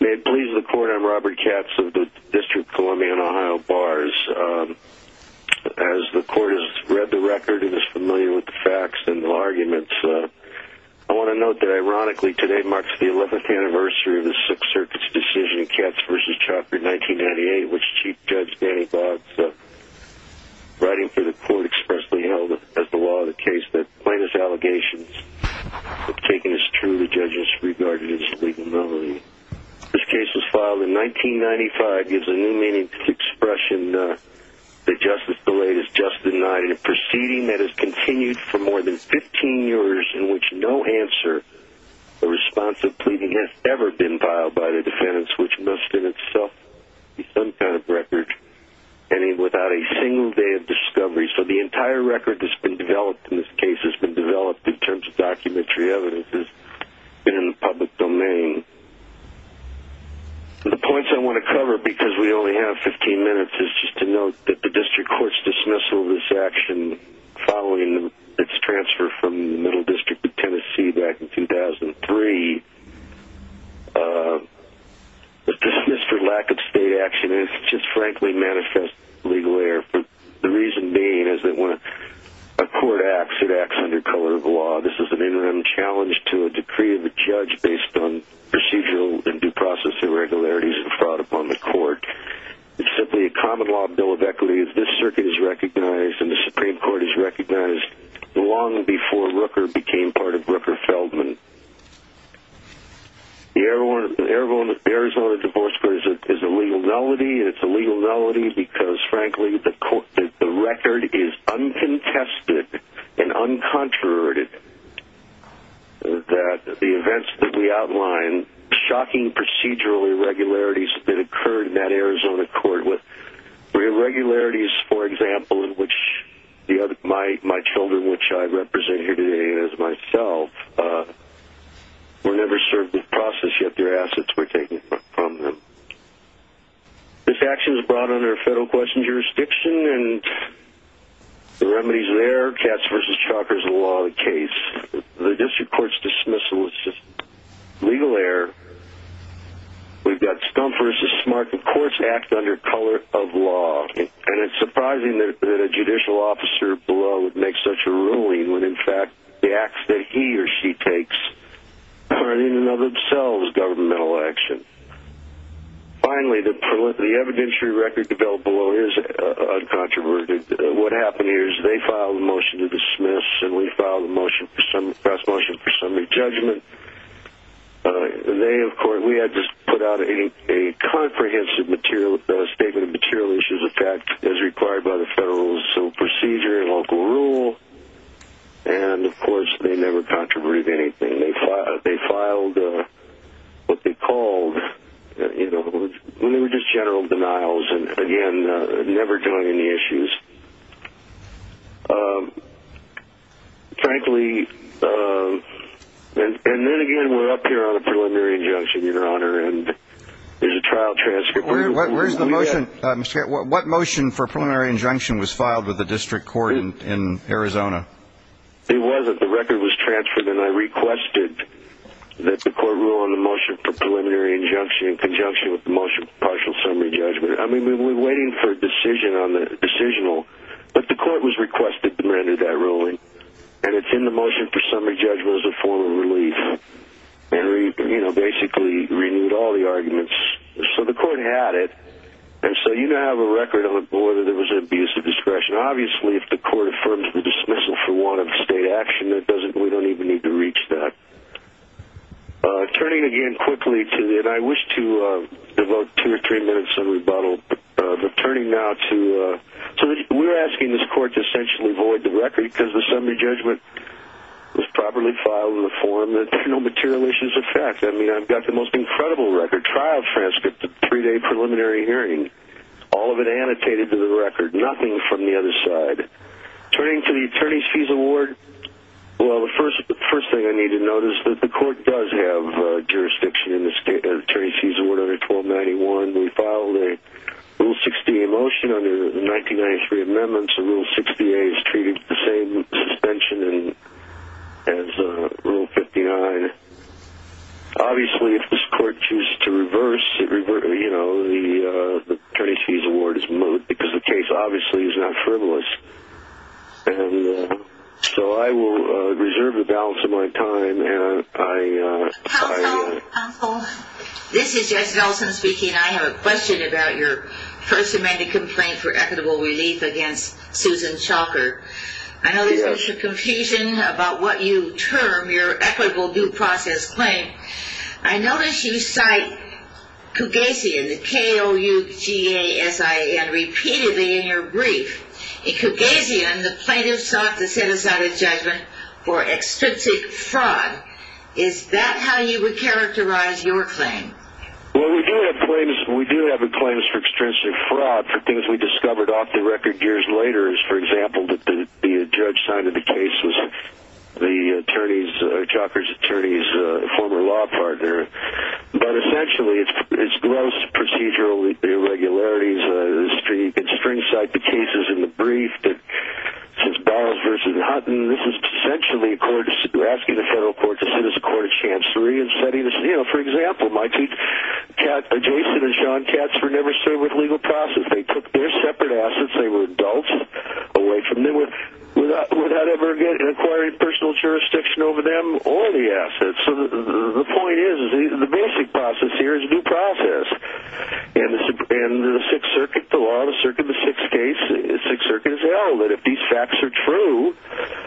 May it please the court, I'm Robert Katz of the District of Columbia and Ohio Bars. As the court has read the record and is familiar with the facts and the arguments, I want to note that ironically today marks the 11th anniversary of the Sixth Circuit's decision, Katz v. Chalker, 1998, which Chief Judge Danny Boggs, writing for the court, expressly held as the law of the case that plaintiff's allegations have taken as true the judge's regarded as legal knowledge. This case was filed in 1995, gives a new meaning to the expression that justice delayed is just denied in a proceeding that has continued for more than 15 years in which no answer or response of pleading has ever been filed by the defendants, which must in itself be some kind of record, any without a single day of discovery. So the entire record that's been developed in this case has been developed in terms of documentary evidence that's been in the public domain. The points I want to cover, because we only have 15 minutes, is just to note that the District Court's dismissal of this action following its transfer from the Middle District of Tennessee back in 2003, the dismissal lack of state action has just frankly manifested legal error, the reason being is that when a court acts, it acts under color of law. This is an interim challenge to a decree of a judge based on procedural and due process irregularities and fraud upon the court. It's simply a common law bill of equity as this circuit is recognized and the Supreme Court has recognized long before Rooker became part of Rooker-Feldman. The Arizona Divorce Court is a legal nullity, and it's a legal nullity because frankly the record is uncontested and uncontroverted. The events that we outline, shocking procedural irregularities that occurred in that Arizona court were irregularities, for example, in which my children, which I represent here today as myself, were never served with process, yet their assets were taken from them. This action was brought under a federal question jurisdiction and the remedies there, Katz v. Chalker, is the law of the case. The District Court's dismissal is just legal error. We've got Stumpf v. Smart, and courts act under color of law, and it's surprising that a judicial officer below would make such a ruling when in fact the acts that he or she takes are in and of themselves governmental action. Finally, the evidentiary record developed below is uncontroverted. What happened here is they filed a motion to dismiss, and we filed a motion for some, a press motion for some re-judgment, and they, of course, we had just put out a comprehensive statement of material issues as required by the federal civil procedure and local rule, and, of course, they never controverted anything. They filed what they called, you know, when they were just general denials, and again, never doing any issues. Frankly, and then again, we're up here on a preliminary injunction, Your Honor, and there's a trial transcript. Where's the motion? What motion for preliminary injunction was filed with the District Court in Arizona? It wasn't. The record was transferred, and I requested that the court rule on the motion for preliminary injunction in conjunction with the motion for partial summary judgment. I mean, we were waiting for a decision on the decisional, but the court was requested to render that ruling, and it's in the motion for summary judgment as a form of relief, and, you know, basically renewed all the arguments. So the court had it, and so you now have a record of whether there was an abuse of discretion. Obviously, if the court affirms the dismissal for want of state action, we don't even need to reach that. Turning again quickly, and I wish to devote two or three minutes of rebuttal, but turning now to, so we're asking this court to essentially void the record because the summary judgment was properly filed in the form, and there's no material issues. It's a fact. I mean, I've got the most incredible record, trial transcript, the three-day preliminary hearing, all of it annotated to the record, nothing from the other side. Turning to the attorney's fees award, well, the first thing I need to note is that the court does have jurisdiction in the attorney's fees award under 1291. We filed a Rule 60A motion under 1993 amendments, and Rule 60A is treated with the same suspension as Rule 59. Obviously, if this court chooses to reverse, the attorney's fees award is moot because the case obviously is not frivolous. So I will reserve the balance of my time. Counsel, this is Jessica Nelson speaking. I have a question about your first amended complaint for equitable relief against Susan Schalker. I know there's been some confusion about what you term your equitable due process claim. I notice you cite Kougasian, the K-O-U-G-A-S-I-A-N, repeatedly in your brief. In Kougasian, the plaintiff sought to set aside a judgment for extrinsic fraud. Is that how you would characterize your claim? Well, we do have claims for extrinsic fraud for things we discovered off the record years later. For example, the judge signing the case was the attorney's, or Schalker's attorney's, former law partner. But essentially, it's gross procedural irregularities. You can string cite the cases in the brief. This is Donalds v. Hutton. This is essentially asking the federal court to sit as a court of chancery and setting this, you know, for example, my two cats, Jason and Sean, cats were never served with legal process. They took their separate assets, they were adults, away from them without ever acquiring personal jurisdiction over them or the assets. So the point is the basic process here is due process. In the Sixth Circuit, the law of the Circuit of the Sixth case, the Sixth Circuit has held that if these facts are true,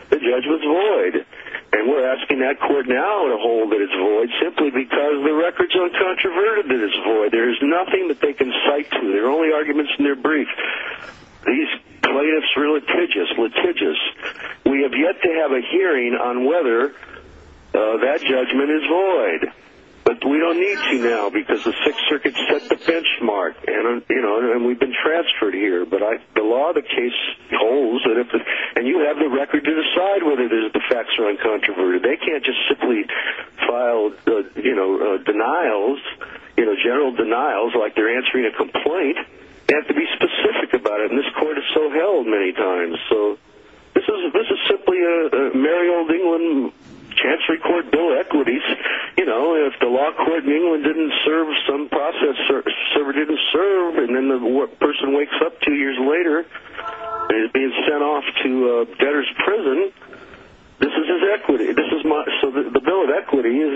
the judgment's void. And we're asking that court now to hold that it's void simply because the record's uncontroverted that it's void. There is nothing that they can cite to. There are only arguments in their brief. These plaintiffs were litigious, litigious. We have yet to have a hearing on whether that judgment is void. But we don't need to now because the Sixth Circuit set the benchmark, and we've been transferred here. But the law of the case holds, and you have the record to decide whether the facts are uncontroverted. They can't just simply file denials, general denials, like they're answering a complaint. They have to be specific about it, and this court has so held many times. So this is simply a merry old England Chancery Court bill of equities. If the law court in England didn't serve some process, server didn't serve, and then the person wakes up two years later and is being sent off to debtor's prison, this is his equity. So the bill of equities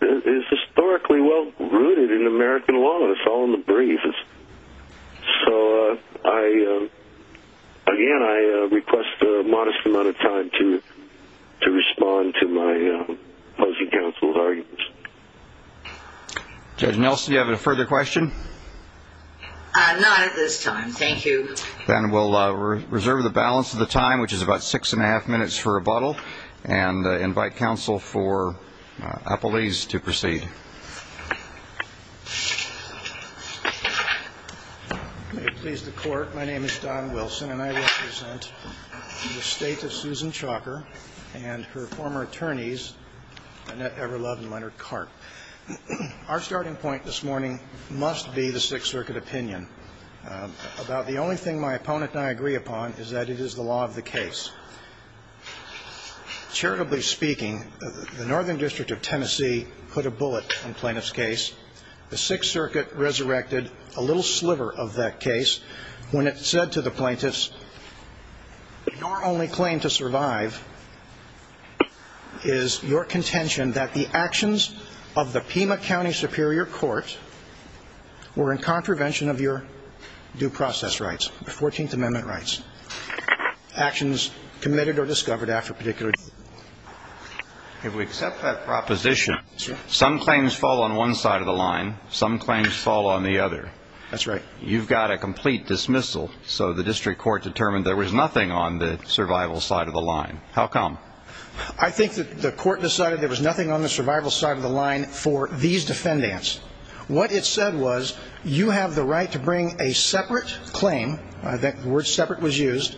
is historically well-rooted in American law. It's all in the briefs. So, again, I request a modest amount of time to respond to my opposing counsel's arguments. Judge Nelson, do you have a further question? Not at this time, thank you. Then we'll reserve the balance of the time, which is about six and a half minutes for rebuttal, and invite counsel for appellees to proceed. May it please the Court, my name is Don Wilson, and I represent the estate of Susan Chalker and her former attorneys, Annette Everlove and Leonard Karp. Our starting point this morning must be the Sixth Circuit opinion about the only thing my opponent and I agree upon is that it is the law of the case. Charitably speaking, the Northern District of Tennessee put a bullet in plaintiff's case. The Sixth Circuit resurrected a little sliver of that case when it said to the plaintiffs, your only claim to survive is your contention that the actions of the Pima County Superior Court were in contravention of your due process rights, your Fourteenth Amendment rights, actions committed or discovered after a particular deed. If we accept that proposition, some claims fall on one side of the line, some claims fall on the other. That's right. You've got a complete dismissal, so the district court determined there was nothing on the survival side of the line. How come? I think that the court decided there was nothing on the survival side of the line for these defendants. What it said was, you have the right to bring a separate claim, that word separate was used,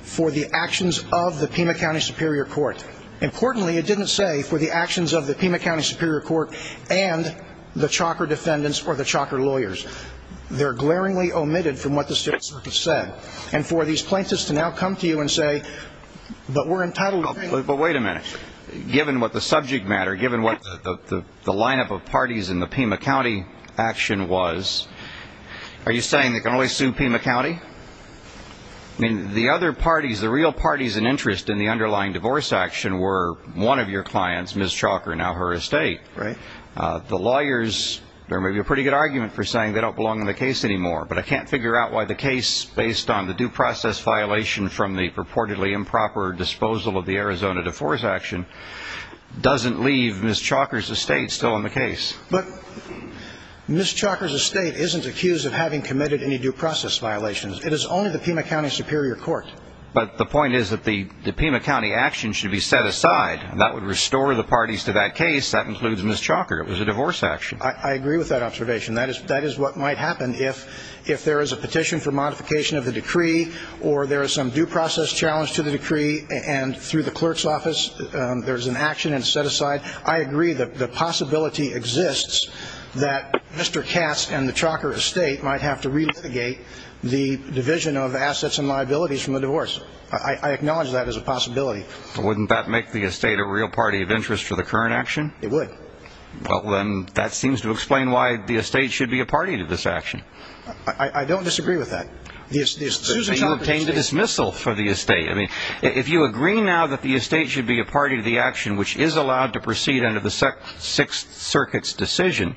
for the actions of the Pima County Superior Court. Importantly, it didn't say for the actions of the Pima County Superior Court and the Chalker defendants or the Chalker lawyers. They're glaringly omitted from what the Sixth Circuit said. And for these plaintiffs to now come to you and say, but we're entitled to bring... But wait a minute. Given what the subject matter, given what the lineup of parties in the Pima County action was, are you saying they can always sue Pima County? I mean, the other parties, the real parties in interest in the underlying divorce action were one of your clients, Ms. Chalker, now her estate. Right. The lawyers, there may be a pretty good argument for saying they don't belong in the case anymore, but I can't figure out why the case, based on the due process violation from the purportedly improper disposal of the Arizona divorce action, doesn't leave Ms. Chalker's estate still in the case. But Ms. Chalker's estate isn't accused of having committed any due process violations. It is only the Pima County Superior Court. But the point is that the Pima County action should be set aside. That would restore the parties to that case. That includes Ms. Chalker. It was a divorce action. I agree with that observation. That is what might happen if there is a petition for modification of the decree or there is some due process challenge to the decree and through the clerk's office there is an action and it's set aside. I agree that the possibility exists that Mr. Katz and the Chalker estate might have to relitigate the division of assets and liabilities from the divorce. I acknowledge that as a possibility. Wouldn't that make the estate a real party of interest for the current action? It would. Well, then that seems to explain why the estate should be a party to this action. I don't disagree with that. You obtained a dismissal for the estate. If you agree now that the estate should be a party to the action which is allowed to proceed under the Sixth Circuit's decision,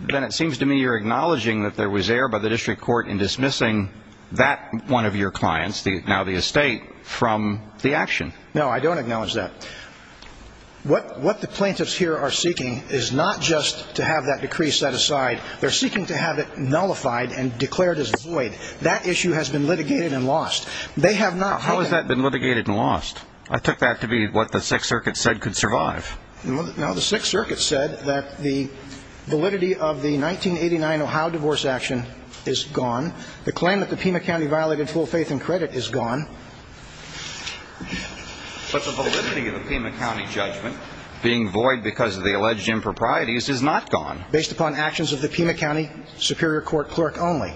then it seems to me you're acknowledging that there was error by the district court in dismissing that one of your clients, now the estate, from the action. No, I don't acknowledge that. What the plaintiffs here are seeking is not just to have that decree set aside. They're seeking to have it nullified and declared as void. That issue has been litigated and lost. How has that been litigated and lost? I took that to be what the Sixth Circuit said could survive. The Sixth Circuit said that the validity of the 1989 Ohio divorce action is gone. The claim that the Pima County violated full faith and credit is gone. But the validity of the Pima County judgment being void because of the alleged improprieties is not gone. Based upon actions of the Pima County Superior Court clerk only.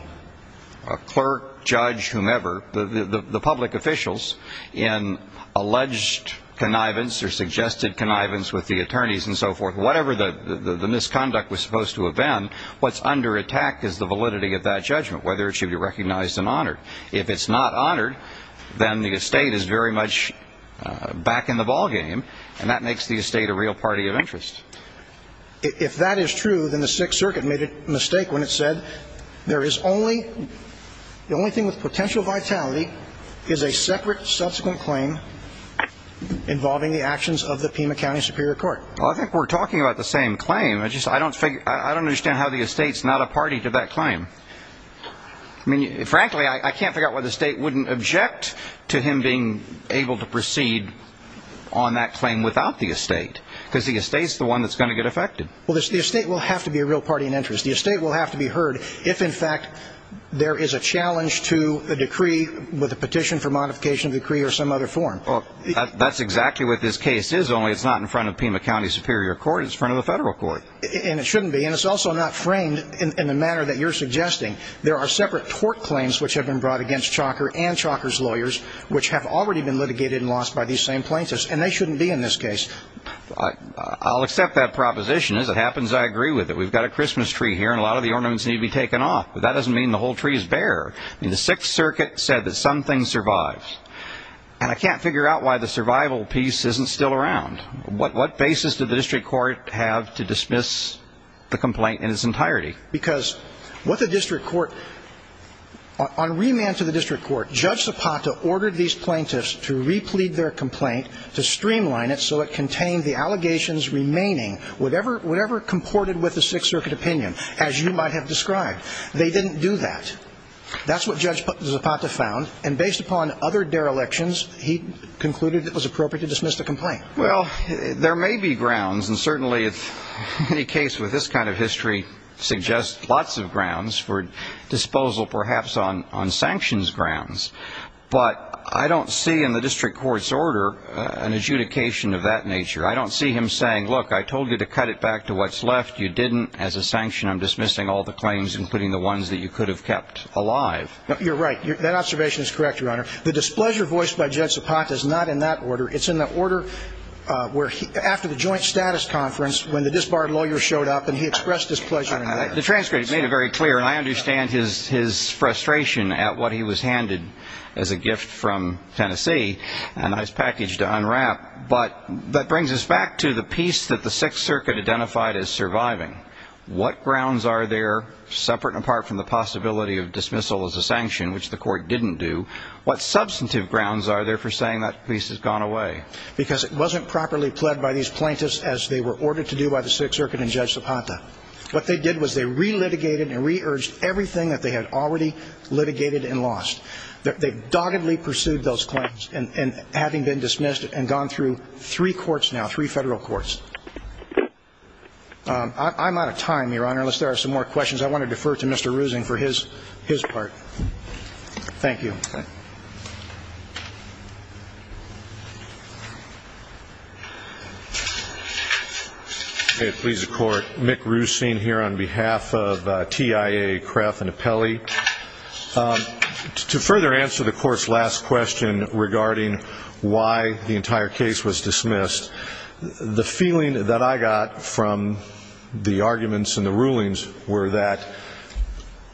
A clerk, judge, whomever, the public officials in alleged connivance or suggested connivance with the attorneys and so forth, whatever the misconduct was supposed to have been, what's under attack is the validity of that judgment, whether it should be recognized and honored. If it's not honored, then the estate is very much back in the ballgame. And that makes the estate a real party of interest. If that is true, then the Sixth Circuit made a mistake when it said the only thing with potential vitality is a separate subsequent claim involving the actions of the Pima County Superior Court. I think we're talking about the same claim. I don't understand how the estate's not a party to that claim. Frankly, I can't figure out why the state wouldn't object to him being able to proceed on that claim without the estate. Because the estate's the one that's going to get affected. Well, the estate will have to be a real party of interest. The estate will have to be heard if, in fact, there is a challenge to a decree with a petition for modification of the decree or some other form. That's exactly what this case is, only it's not in front of Pima County Superior Court. It's in front of the federal court. And it shouldn't be. And it's also not framed in the manner that you're suggesting. There are separate tort claims which have been brought against Chalker and Chalker's lawyers which have already been litigated and lost by these same plaintiffs. And they shouldn't be in this case. I'll accept that proposition. As it happens, I agree with it. We've got a Christmas tree here, and a lot of the ornaments need to be taken off. But that doesn't mean the whole tree is bare. The Sixth Circuit said that something survives. And I can't figure out why the survival piece isn't still around. What basis did the district court have to dismiss the complaint in its entirety? Because what the district court, on remand to the district court, Judge Zapata ordered these plaintiffs to replete their complaint, to streamline it so it contained the allegations remaining, whatever comported with the Sixth Circuit opinion, as you might have described. They didn't do that. That's what Judge Zapata found. And based upon other derelictions, he concluded it was appropriate to dismiss the complaint. Well, there may be grounds, and certainly any case with this kind of history suggests lots of grounds for disposal perhaps on sanctions grounds. But I don't see in the district court's order an adjudication of that nature. I don't see him saying, look, I told you to cut it back to what's left. You didn't. As a sanction, I'm dismissing all the claims, including the ones that you could have kept alive. You're right. That observation is correct, Your Honor. The displeasure voiced by Judge Zapata is not in that order. It's in the order where after the joint status conference, when the disbarred lawyer showed up and he expressed his pleasure in that. The transcript made it very clear, and I understand his frustration at what he was handed as a gift from Tennessee, a nice package to unwrap. But that brings us back to the piece that the Sixth Circuit identified as surviving. What grounds are there, separate and apart from the possibility of dismissal as a sanction, which the court didn't do, what substantive grounds are there for saying that piece has gone away? Because it wasn't properly pled by these plaintiffs as they were ordered to do by the Sixth Circuit and Judge Zapata. What they did was they re-litigated and re-urged everything that they had already litigated and lost. They doggedly pursued those claims, having been dismissed and gone through three courts now, three federal courts. I'm out of time, Your Honor, unless there are some more questions. I want to defer to Mr. Ruesing for his part. Thank you. Please, the Court. Mick Ruesing here on behalf of TIA, CREF, and Apelli. To further answer the Court's last question regarding why the entire case was dismissed, the feeling that I got from the arguments and the rulings were that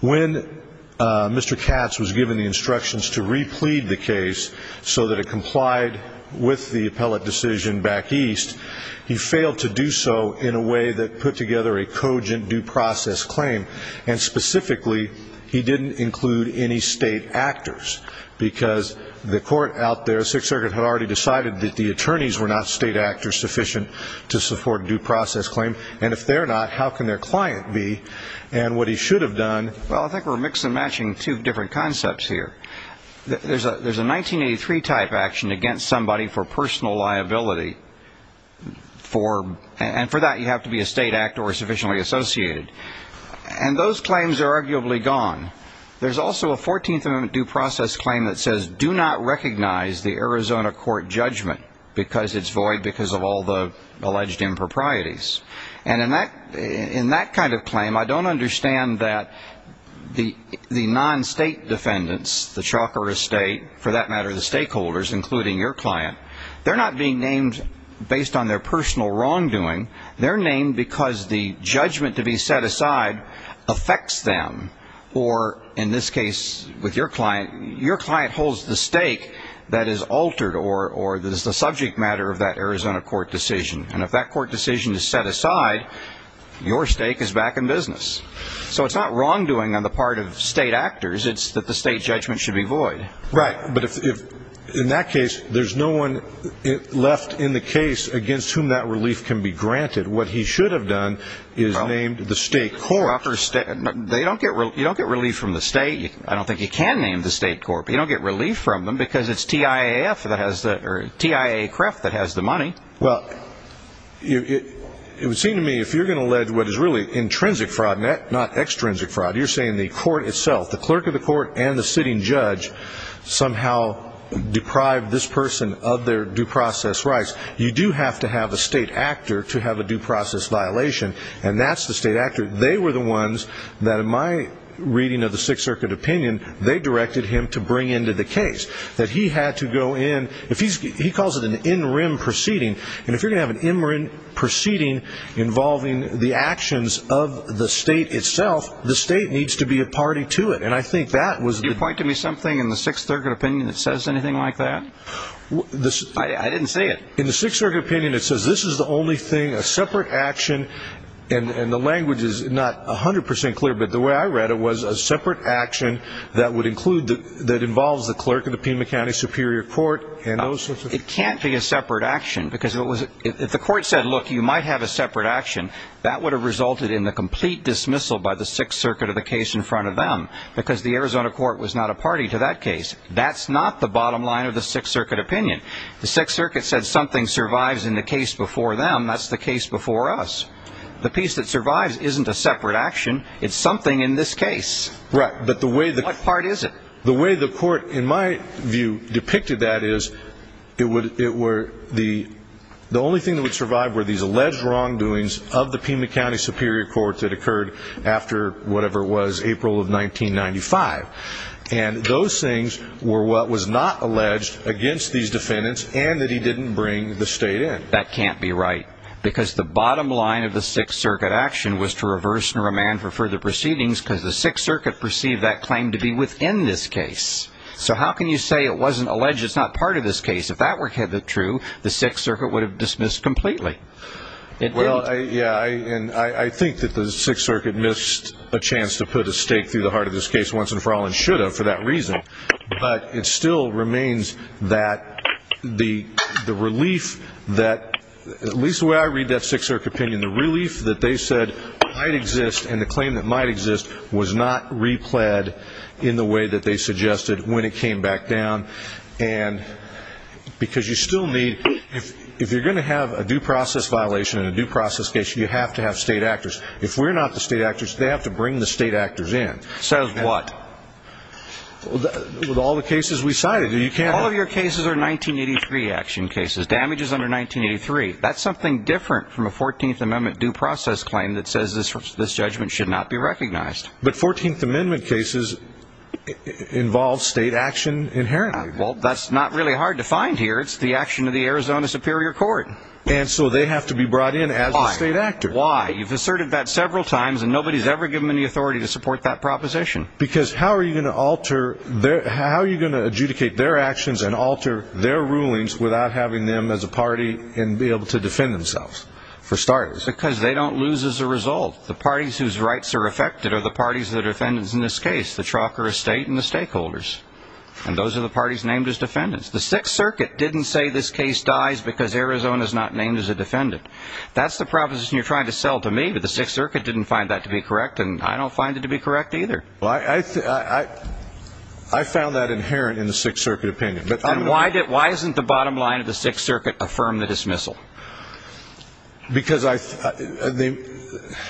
when Mr. Katz was given the instructions to re-plead the case so that it complied with the appellate decision back east, he failed to do so in a way that put together a cogent due process claim. And specifically, he didn't include any state actors. Because the court out there, the Sixth Circuit, had already decided that the attorneys were not state actors sufficient to support a due process claim. And if they're not, how can their client be? And what he should have done... Well, I think we're mixing and matching two different concepts here. There's a 1983-type action against somebody for personal liability. And for that, you have to be a state actor or sufficiently associated. And those claims are arguably gone. There's also a 14th Amendment due process claim that says, do not recognize the Arizona court judgment because it's void because of all the alleged improprieties. And in that kind of claim, I don't understand that the non-state defendants, the chalk or estate, for that matter, the stakeholders, including your client, they're not being named based on their personal wrongdoing. They're named because the judgment to be set aside affects them. Or, in this case with your client, your client holds the stake that is altered or is the subject matter of that Arizona court decision. And if that court decision is set aside, your stake is back in business. So it's not wrongdoing on the part of state actors. It's that the state judgment should be void. Right. But in that case, there's no one left in the case against whom that relief can be granted. What he should have done is named the state court. You don't get relief from the state. I don't think you can name the state court. But you don't get relief from them because it's TIA-CREF that has the money. Well, it would seem to me, if you're going to allege what is really intrinsic fraud, not extrinsic fraud, you're saying the court itself, the clerk of the court and the sitting judge somehow deprived this person of their due process rights. You do have to have a state actor to have a due process violation, and that's the state actor. They were the ones that, in my reading of the Sixth Circuit opinion, they directed him to bring into the case. That he had to go in. He calls it an in rem proceeding. And if you're going to have an in rem proceeding involving the actions of the state itself, the state needs to be a party to it. Do you point to me something in the Sixth Circuit opinion that says anything like that? I didn't say it. In the Sixth Circuit opinion, it says this is the only thing, a separate action, and the language is not 100% clear, but the way I read it was a separate action that involves the clerk of the Pima County Superior Court and those sorts of things. It can't be a separate action, because if the court said, look, you might have a separate action, that would have resulted in the complete dismissal by the Sixth Circuit of the case in front of them, because the Arizona court was not a party to that case. That's not the bottom line of the Sixth Circuit opinion. The Sixth Circuit said something survives in the case before them. That's the case before us. The piece that survives isn't a separate action. It's something in this case. What part is it? The way the court, in my view, depicted that is, the only thing that would survive were these alleged wrongdoings of the Pima County Superior Court that occurred after whatever it was, April of 1995. And those things were what was not alleged against these defendants, and that he didn't bring the state in. That can't be right, because the bottom line of the Sixth Circuit action was to reverse and remand for further proceedings, because the Sixth Circuit perceived that claim to be within this case. So how can you say it wasn't alleged, it's not part of this case? If that were true, the Sixth Circuit would have dismissed completely. Well, yeah, and I think that the Sixth Circuit missed a chance to put a stake through the heart of this case once and for all, and should have for that reason. But it still remains that the relief that, at least the way I read that Sixth Circuit opinion, the relief that they said might exist and the claim that might exist was not repled in the way that they suggested when it came back down. And because you still need, if you're going to have a due process violation in a due process case, you have to have state actors. If we're not the state actors, they have to bring the state actors in. So what? With all the cases we cited. All of your cases are 1983 action cases, damages under 1983. That's something different from a 14th Amendment due process claim that says this judgment should not be recognized. But 14th Amendment cases involve state action inherently. Well, that's not really hard to find here. It's the action of the Arizona Superior Court. And so they have to be brought in as the state actors. Why? Why? You've asserted that several times, and nobody's ever given them the authority to support that proposition. Because how are you going to alter, how are you going to adjudicate their actions and alter their rulings without having them as a party and be able to defend themselves, for starters? Because they don't lose as a result. The parties whose rights are affected are the parties that are defendants in this case, the trucker estate and the stakeholders. And those are the parties named as defendants. The Sixth Circuit didn't say this case dies because Arizona's not named as a defendant. That's the proposition you're trying to sell to me, but the Sixth Circuit didn't find that to be correct, and I don't find it to be correct either. Well, I found that inherent in the Sixth Circuit opinion. And why isn't the bottom line of the Sixth Circuit affirm the dismissal? Because I think the ----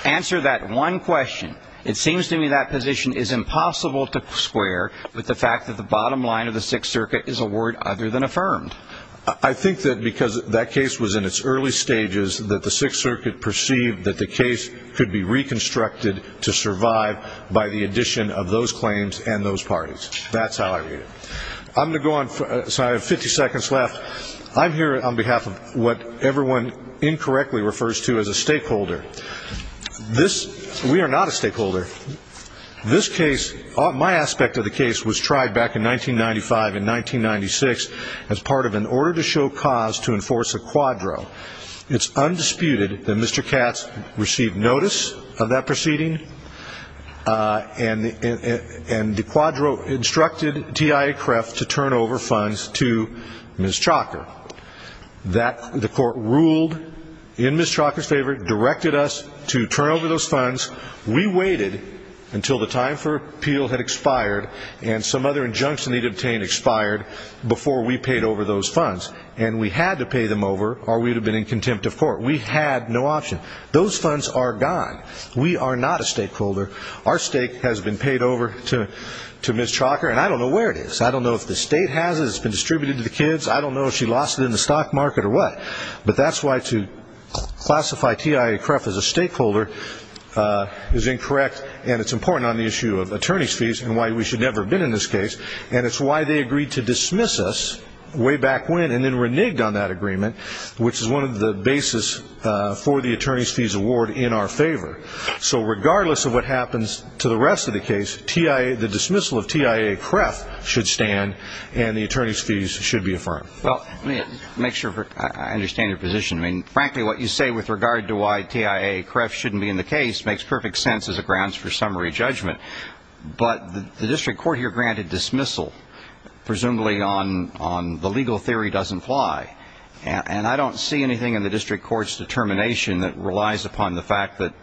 Answer that one question. It seems to me that position is impossible to square with the fact that the bottom line of the Sixth Circuit is a word other than affirmed. I think that because that case was in its early stages, that the Sixth Circuit perceived that the case could be reconstructed to survive by the addition of those claims and those parties. That's how I read it. I'm going to go on, so I have 50 seconds left. I'm here on behalf of what everyone incorrectly refers to as a stakeholder. We are not a stakeholder. This case, my aspect of the case, was tried back in 1995 and 1996 as part of an order to show cause to enforce a quadro. It's undisputed that Mr. Katz received notice of that proceeding, and the quadro instructed TIA Kreft to turn over funds to Ms. Chalker. The court ruled in Ms. Chalker's favor, directed us to turn over those funds. We waited until the time for appeal had expired and some other injunction they'd obtained expired before we paid over those funds. And we had to pay them over or we would have been in contempt of court. We had no option. Those funds are gone. We are not a stakeholder. Our stake has been paid over to Ms. Chalker, and I don't know where it is. I don't know if the state has it. It's been distributed to the kids. I don't know if she lost it in the stock market or what. But that's why to classify TIA Kreft as a stakeholder is incorrect, and it's important on the issue of attorney's fees and why we should never have been in this case, and it's why they agreed to dismiss us way back when and then reneged on that agreement, which is one of the basis for the attorney's fees award in our favor. So regardless of what happens to the rest of the case, the dismissal of TIA Kreft should stand and the attorney's fees should be affirmed. Well, let me make sure I understand your position. I mean, frankly, what you say with regard to why TIA Kreft shouldn't be in the case makes perfect sense as a grounds for summary judgment. But the district court here granted dismissal, presumably on the legal theory doesn't fly, and I don't see anything in the district court's determination that relies upon the fact that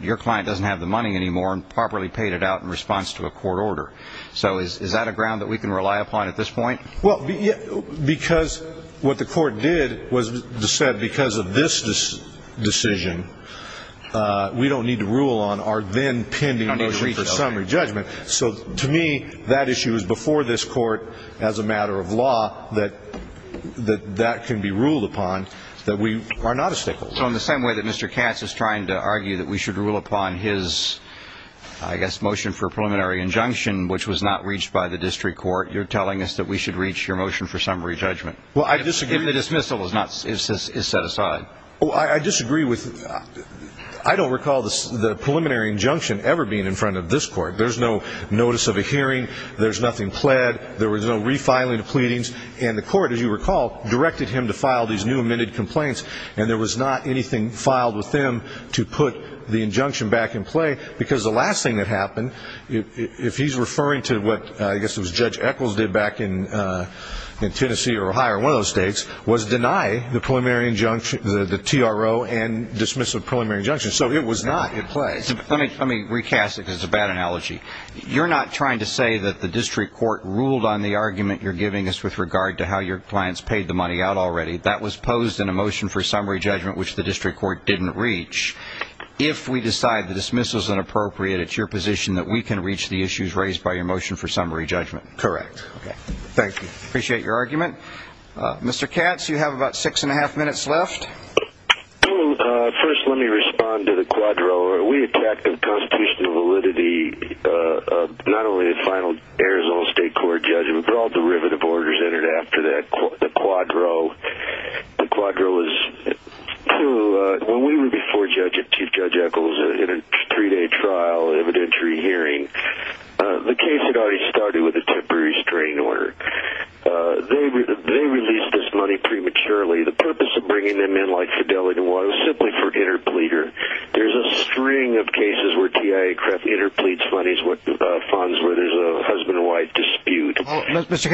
your client doesn't have the money anymore and properly paid it out in response to a court order. So is that a ground that we can rely upon at this point? Well, because what the court did was said because of this decision, we don't need to rule on our then pending motion for summary judgment. So to me, that issue is before this court as a matter of law that that can be ruled upon, that we are not a stakeholder. So in the same way that Mr. Katz is trying to argue that we should rule upon his, I guess, motion for a preliminary injunction, which was not reached by the district court, you're telling us that we should reach your motion for summary judgment. Well, I disagree. If the dismissal is set aside. Well, I disagree. I don't recall the preliminary injunction ever being in front of this court. There's no notice of a hearing. There's nothing pled. There was no refiling of pleadings. And the court, as you recall, directed him to file these new amended complaints, and there was not anything filed with them to put the injunction back in play, because the last thing that happened, if he's referring to what I guess it was Judge Echols did back in Tennessee or Ohio or one of those states, was deny the TRO and dismissive preliminary injunction. So it was not in play. Let me recast it because it's a bad analogy. You're not trying to say that the district court ruled on the argument you're giving us with regard to how your clients paid the money out already. That was posed in a motion for summary judgment, which the district court didn't reach. If we decide the dismissal is inappropriate, it's your position that we can reach the issues raised by your motion for summary judgment. Correct. Thank you. I appreciate your argument. Mr. Katz, you have about six and a half minutes left. First, let me respond to the quadro. We attacked the constitutional validity of not only the final Arizona State Court judgment, but all derivative orders entered after that, the quadro. The quadro is to when we were before Chief Judge Echols in a three-day trial evidentiary hearing, the case had already started with a temporary restraining order. They released this money prematurely. The purpose of bringing them in like fidelity was simply for interpleader. There's a string of cases where TIA interpleads funds where there's a husband-wife dispute. Mr.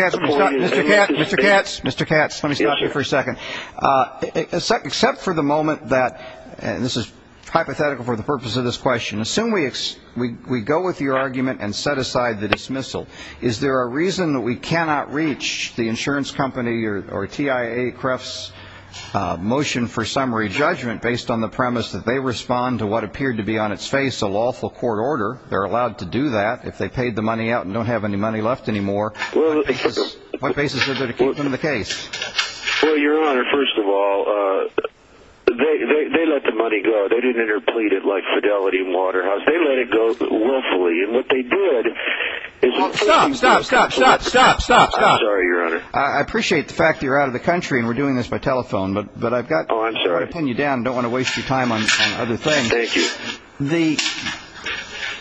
Katz, let me stop you for a second. Except for the moment that, and this is hypothetical for the purpose of this question, assume we go with your argument and set aside the dismissal. Is there a reason that we cannot reach the insurance company or TIA Cref's motion for summary judgment based on the premise that they respond to what appeared to be on its face a lawful court order? They're allowed to do that if they paid the money out and don't have any money left anymore. What basis is there to keep them in the case? Well, Your Honor, first of all, they let the money go. They didn't interplead it like fidelity in Waterhouse. They let it go willfully, and what they did is- Stop! Stop! Stop! Stop! Stop! Stop! I'm sorry, Your Honor. I appreciate the fact that you're out of the country and we're doing this by telephone, but I've got- Oh, I'm sorry. I'm going to pin you down. I don't want to waste your time on other things. Thank you.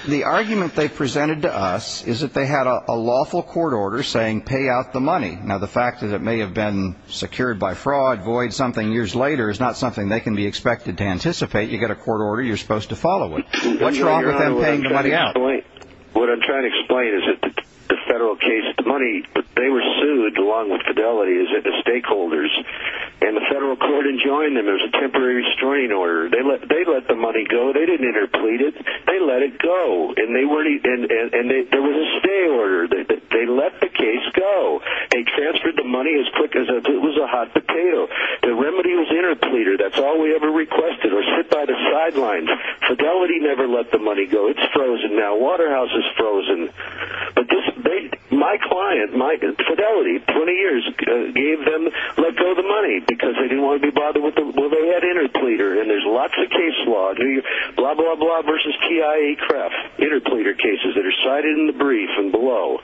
The argument they presented to us is that they had a lawful court order saying pay out the money. Now, the fact that it may have been secured by fraud, void, something years later, is not something they can be expected to anticipate. You get a court order, you're supposed to follow it. What's wrong with them paying the money out? What I'm trying to explain is that the federal case, the money, they were sued along with Fidelity, the stakeholders, and the federal court enjoined them. There was a temporary restraining order. They let the money go. They didn't interplead it. They let it go, and there was a stay order. They let the case go. They transferred the money as quick as it was a hot potato. The remedy was interpleader. That's all we ever requested, or sit by the sidelines. Fidelity never let the money go. It's frozen now. Waterhouse is frozen. But my client, Fidelity, 20 years ago, gave them, let go of the money because they didn't want to be bothered. Well, they had interpleader, and there's lots of case law, blah, blah, blah, versus TIA-CREF, interpleader cases that are cited in the brief and below.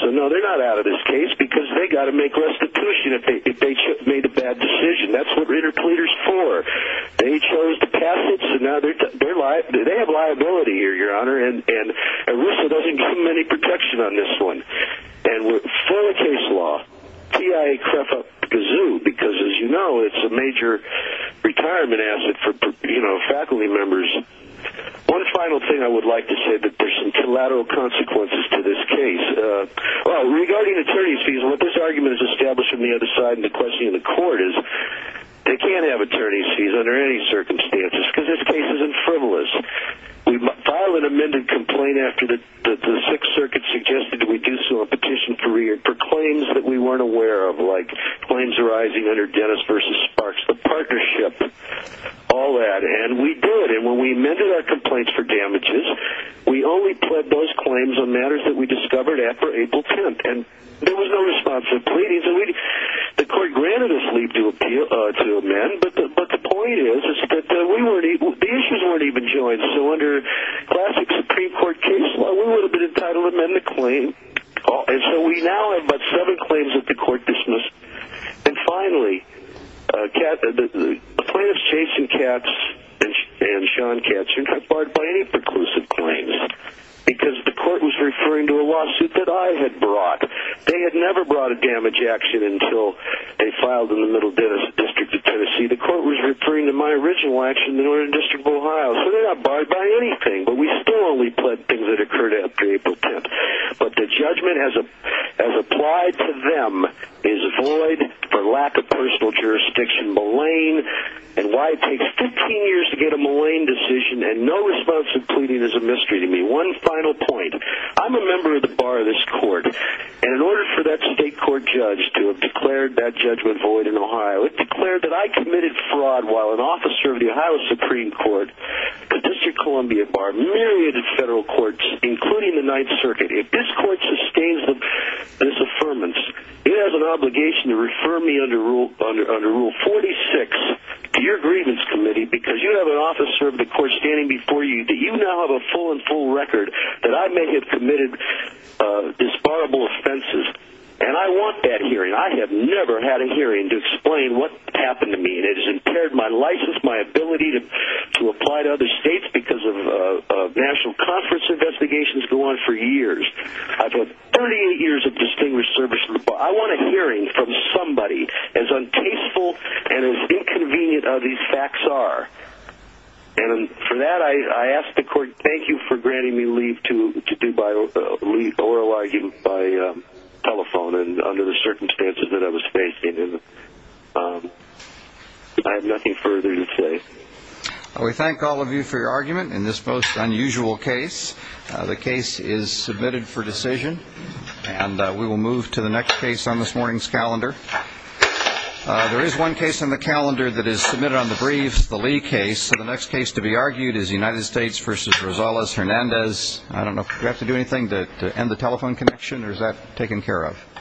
So, no, they're not out of this case because they've got to make restitution if they made a bad decision. That's what interpleader is for. They chose to pass it, so now they have liability here, Your Honor, and RUSA doesn't give them any protection on this one. And with federal case law, TIA-CREF up the kazoo because, as you know, it's a major retirement asset for faculty members. One final thing I would like to say, that there's some collateral consequences to this case. Well, regarding attorney's fees, what this argument has established from the other side in the question of the court is they can't have attorney's fees under any circumstances because this case isn't frivolous. We file an amended complaint after the Sixth Circuit suggested we do so on petition for claims that we weren't aware of, like claims arising under Dennis v. Sparks, the partnership, all that. And we did. And when we amended our complaints for damages, we only pled those claims on matters that we discovered after April 10th. And there was no response to the pleadings. The court granted us leave to amend, but the point is that the issues weren't even joined. So under classic Supreme Court case law, we would have been entitled to amend the claim. And so we now have but seven claims that the court dismissed. And finally, the plaintiffs, Jason Katz and Sean Katz, are not barred by any preclusive claims because the court was referring to a lawsuit that I had brought. They had never brought a damage action until they filed in the Middle District of Tennessee. The court was referring to my original action in the Northern District of Ohio. So they're not barred by anything, but we still only pled things that occurred after April 10th. But the judgment as applied to them is void for lack of personal jurisdiction, malign. And why it takes 15 years to get a malign decision and no response to pleading is a mystery to me. One final point. I'm a member of the bar of this court. And in order for that state court judge to have declared that judgment void in Ohio, it declared that I committed fraud while an officer of the Ohio Supreme Court, the District of Columbia, barred myriad of federal courts, including the Ninth Circuit. If this court sustains this affirmance, it has an obligation to refer me under Rule 46 to your grievance committee because you have an officer of the court standing before you. Do you now have a full and full record that I may have committed disparable offenses? And I want that hearing. I have never had a hearing to explain what happened to me. I mean, it has impaired my license, my ability to apply to other states because of national conference investigations go on for years. I've had 38 years of distinguished service. I want a hearing from somebody as untasteful and as inconvenient as these facts are. And for that, I ask the court, thank you for granting me leave to do my oral argument by telephone under the circumstances that I was facing. I have nothing further to say. We thank all of you for your argument in this most unusual case. The case is submitted for decision, and we will move to the next case on this morning's calendar. There is one case on the calendar that is submitted on the brief, the Lee case. The next case to be argued is United States v. Rosales Hernandez. I don't know if you have to do anything to end the telephone connection, or is that taken care of?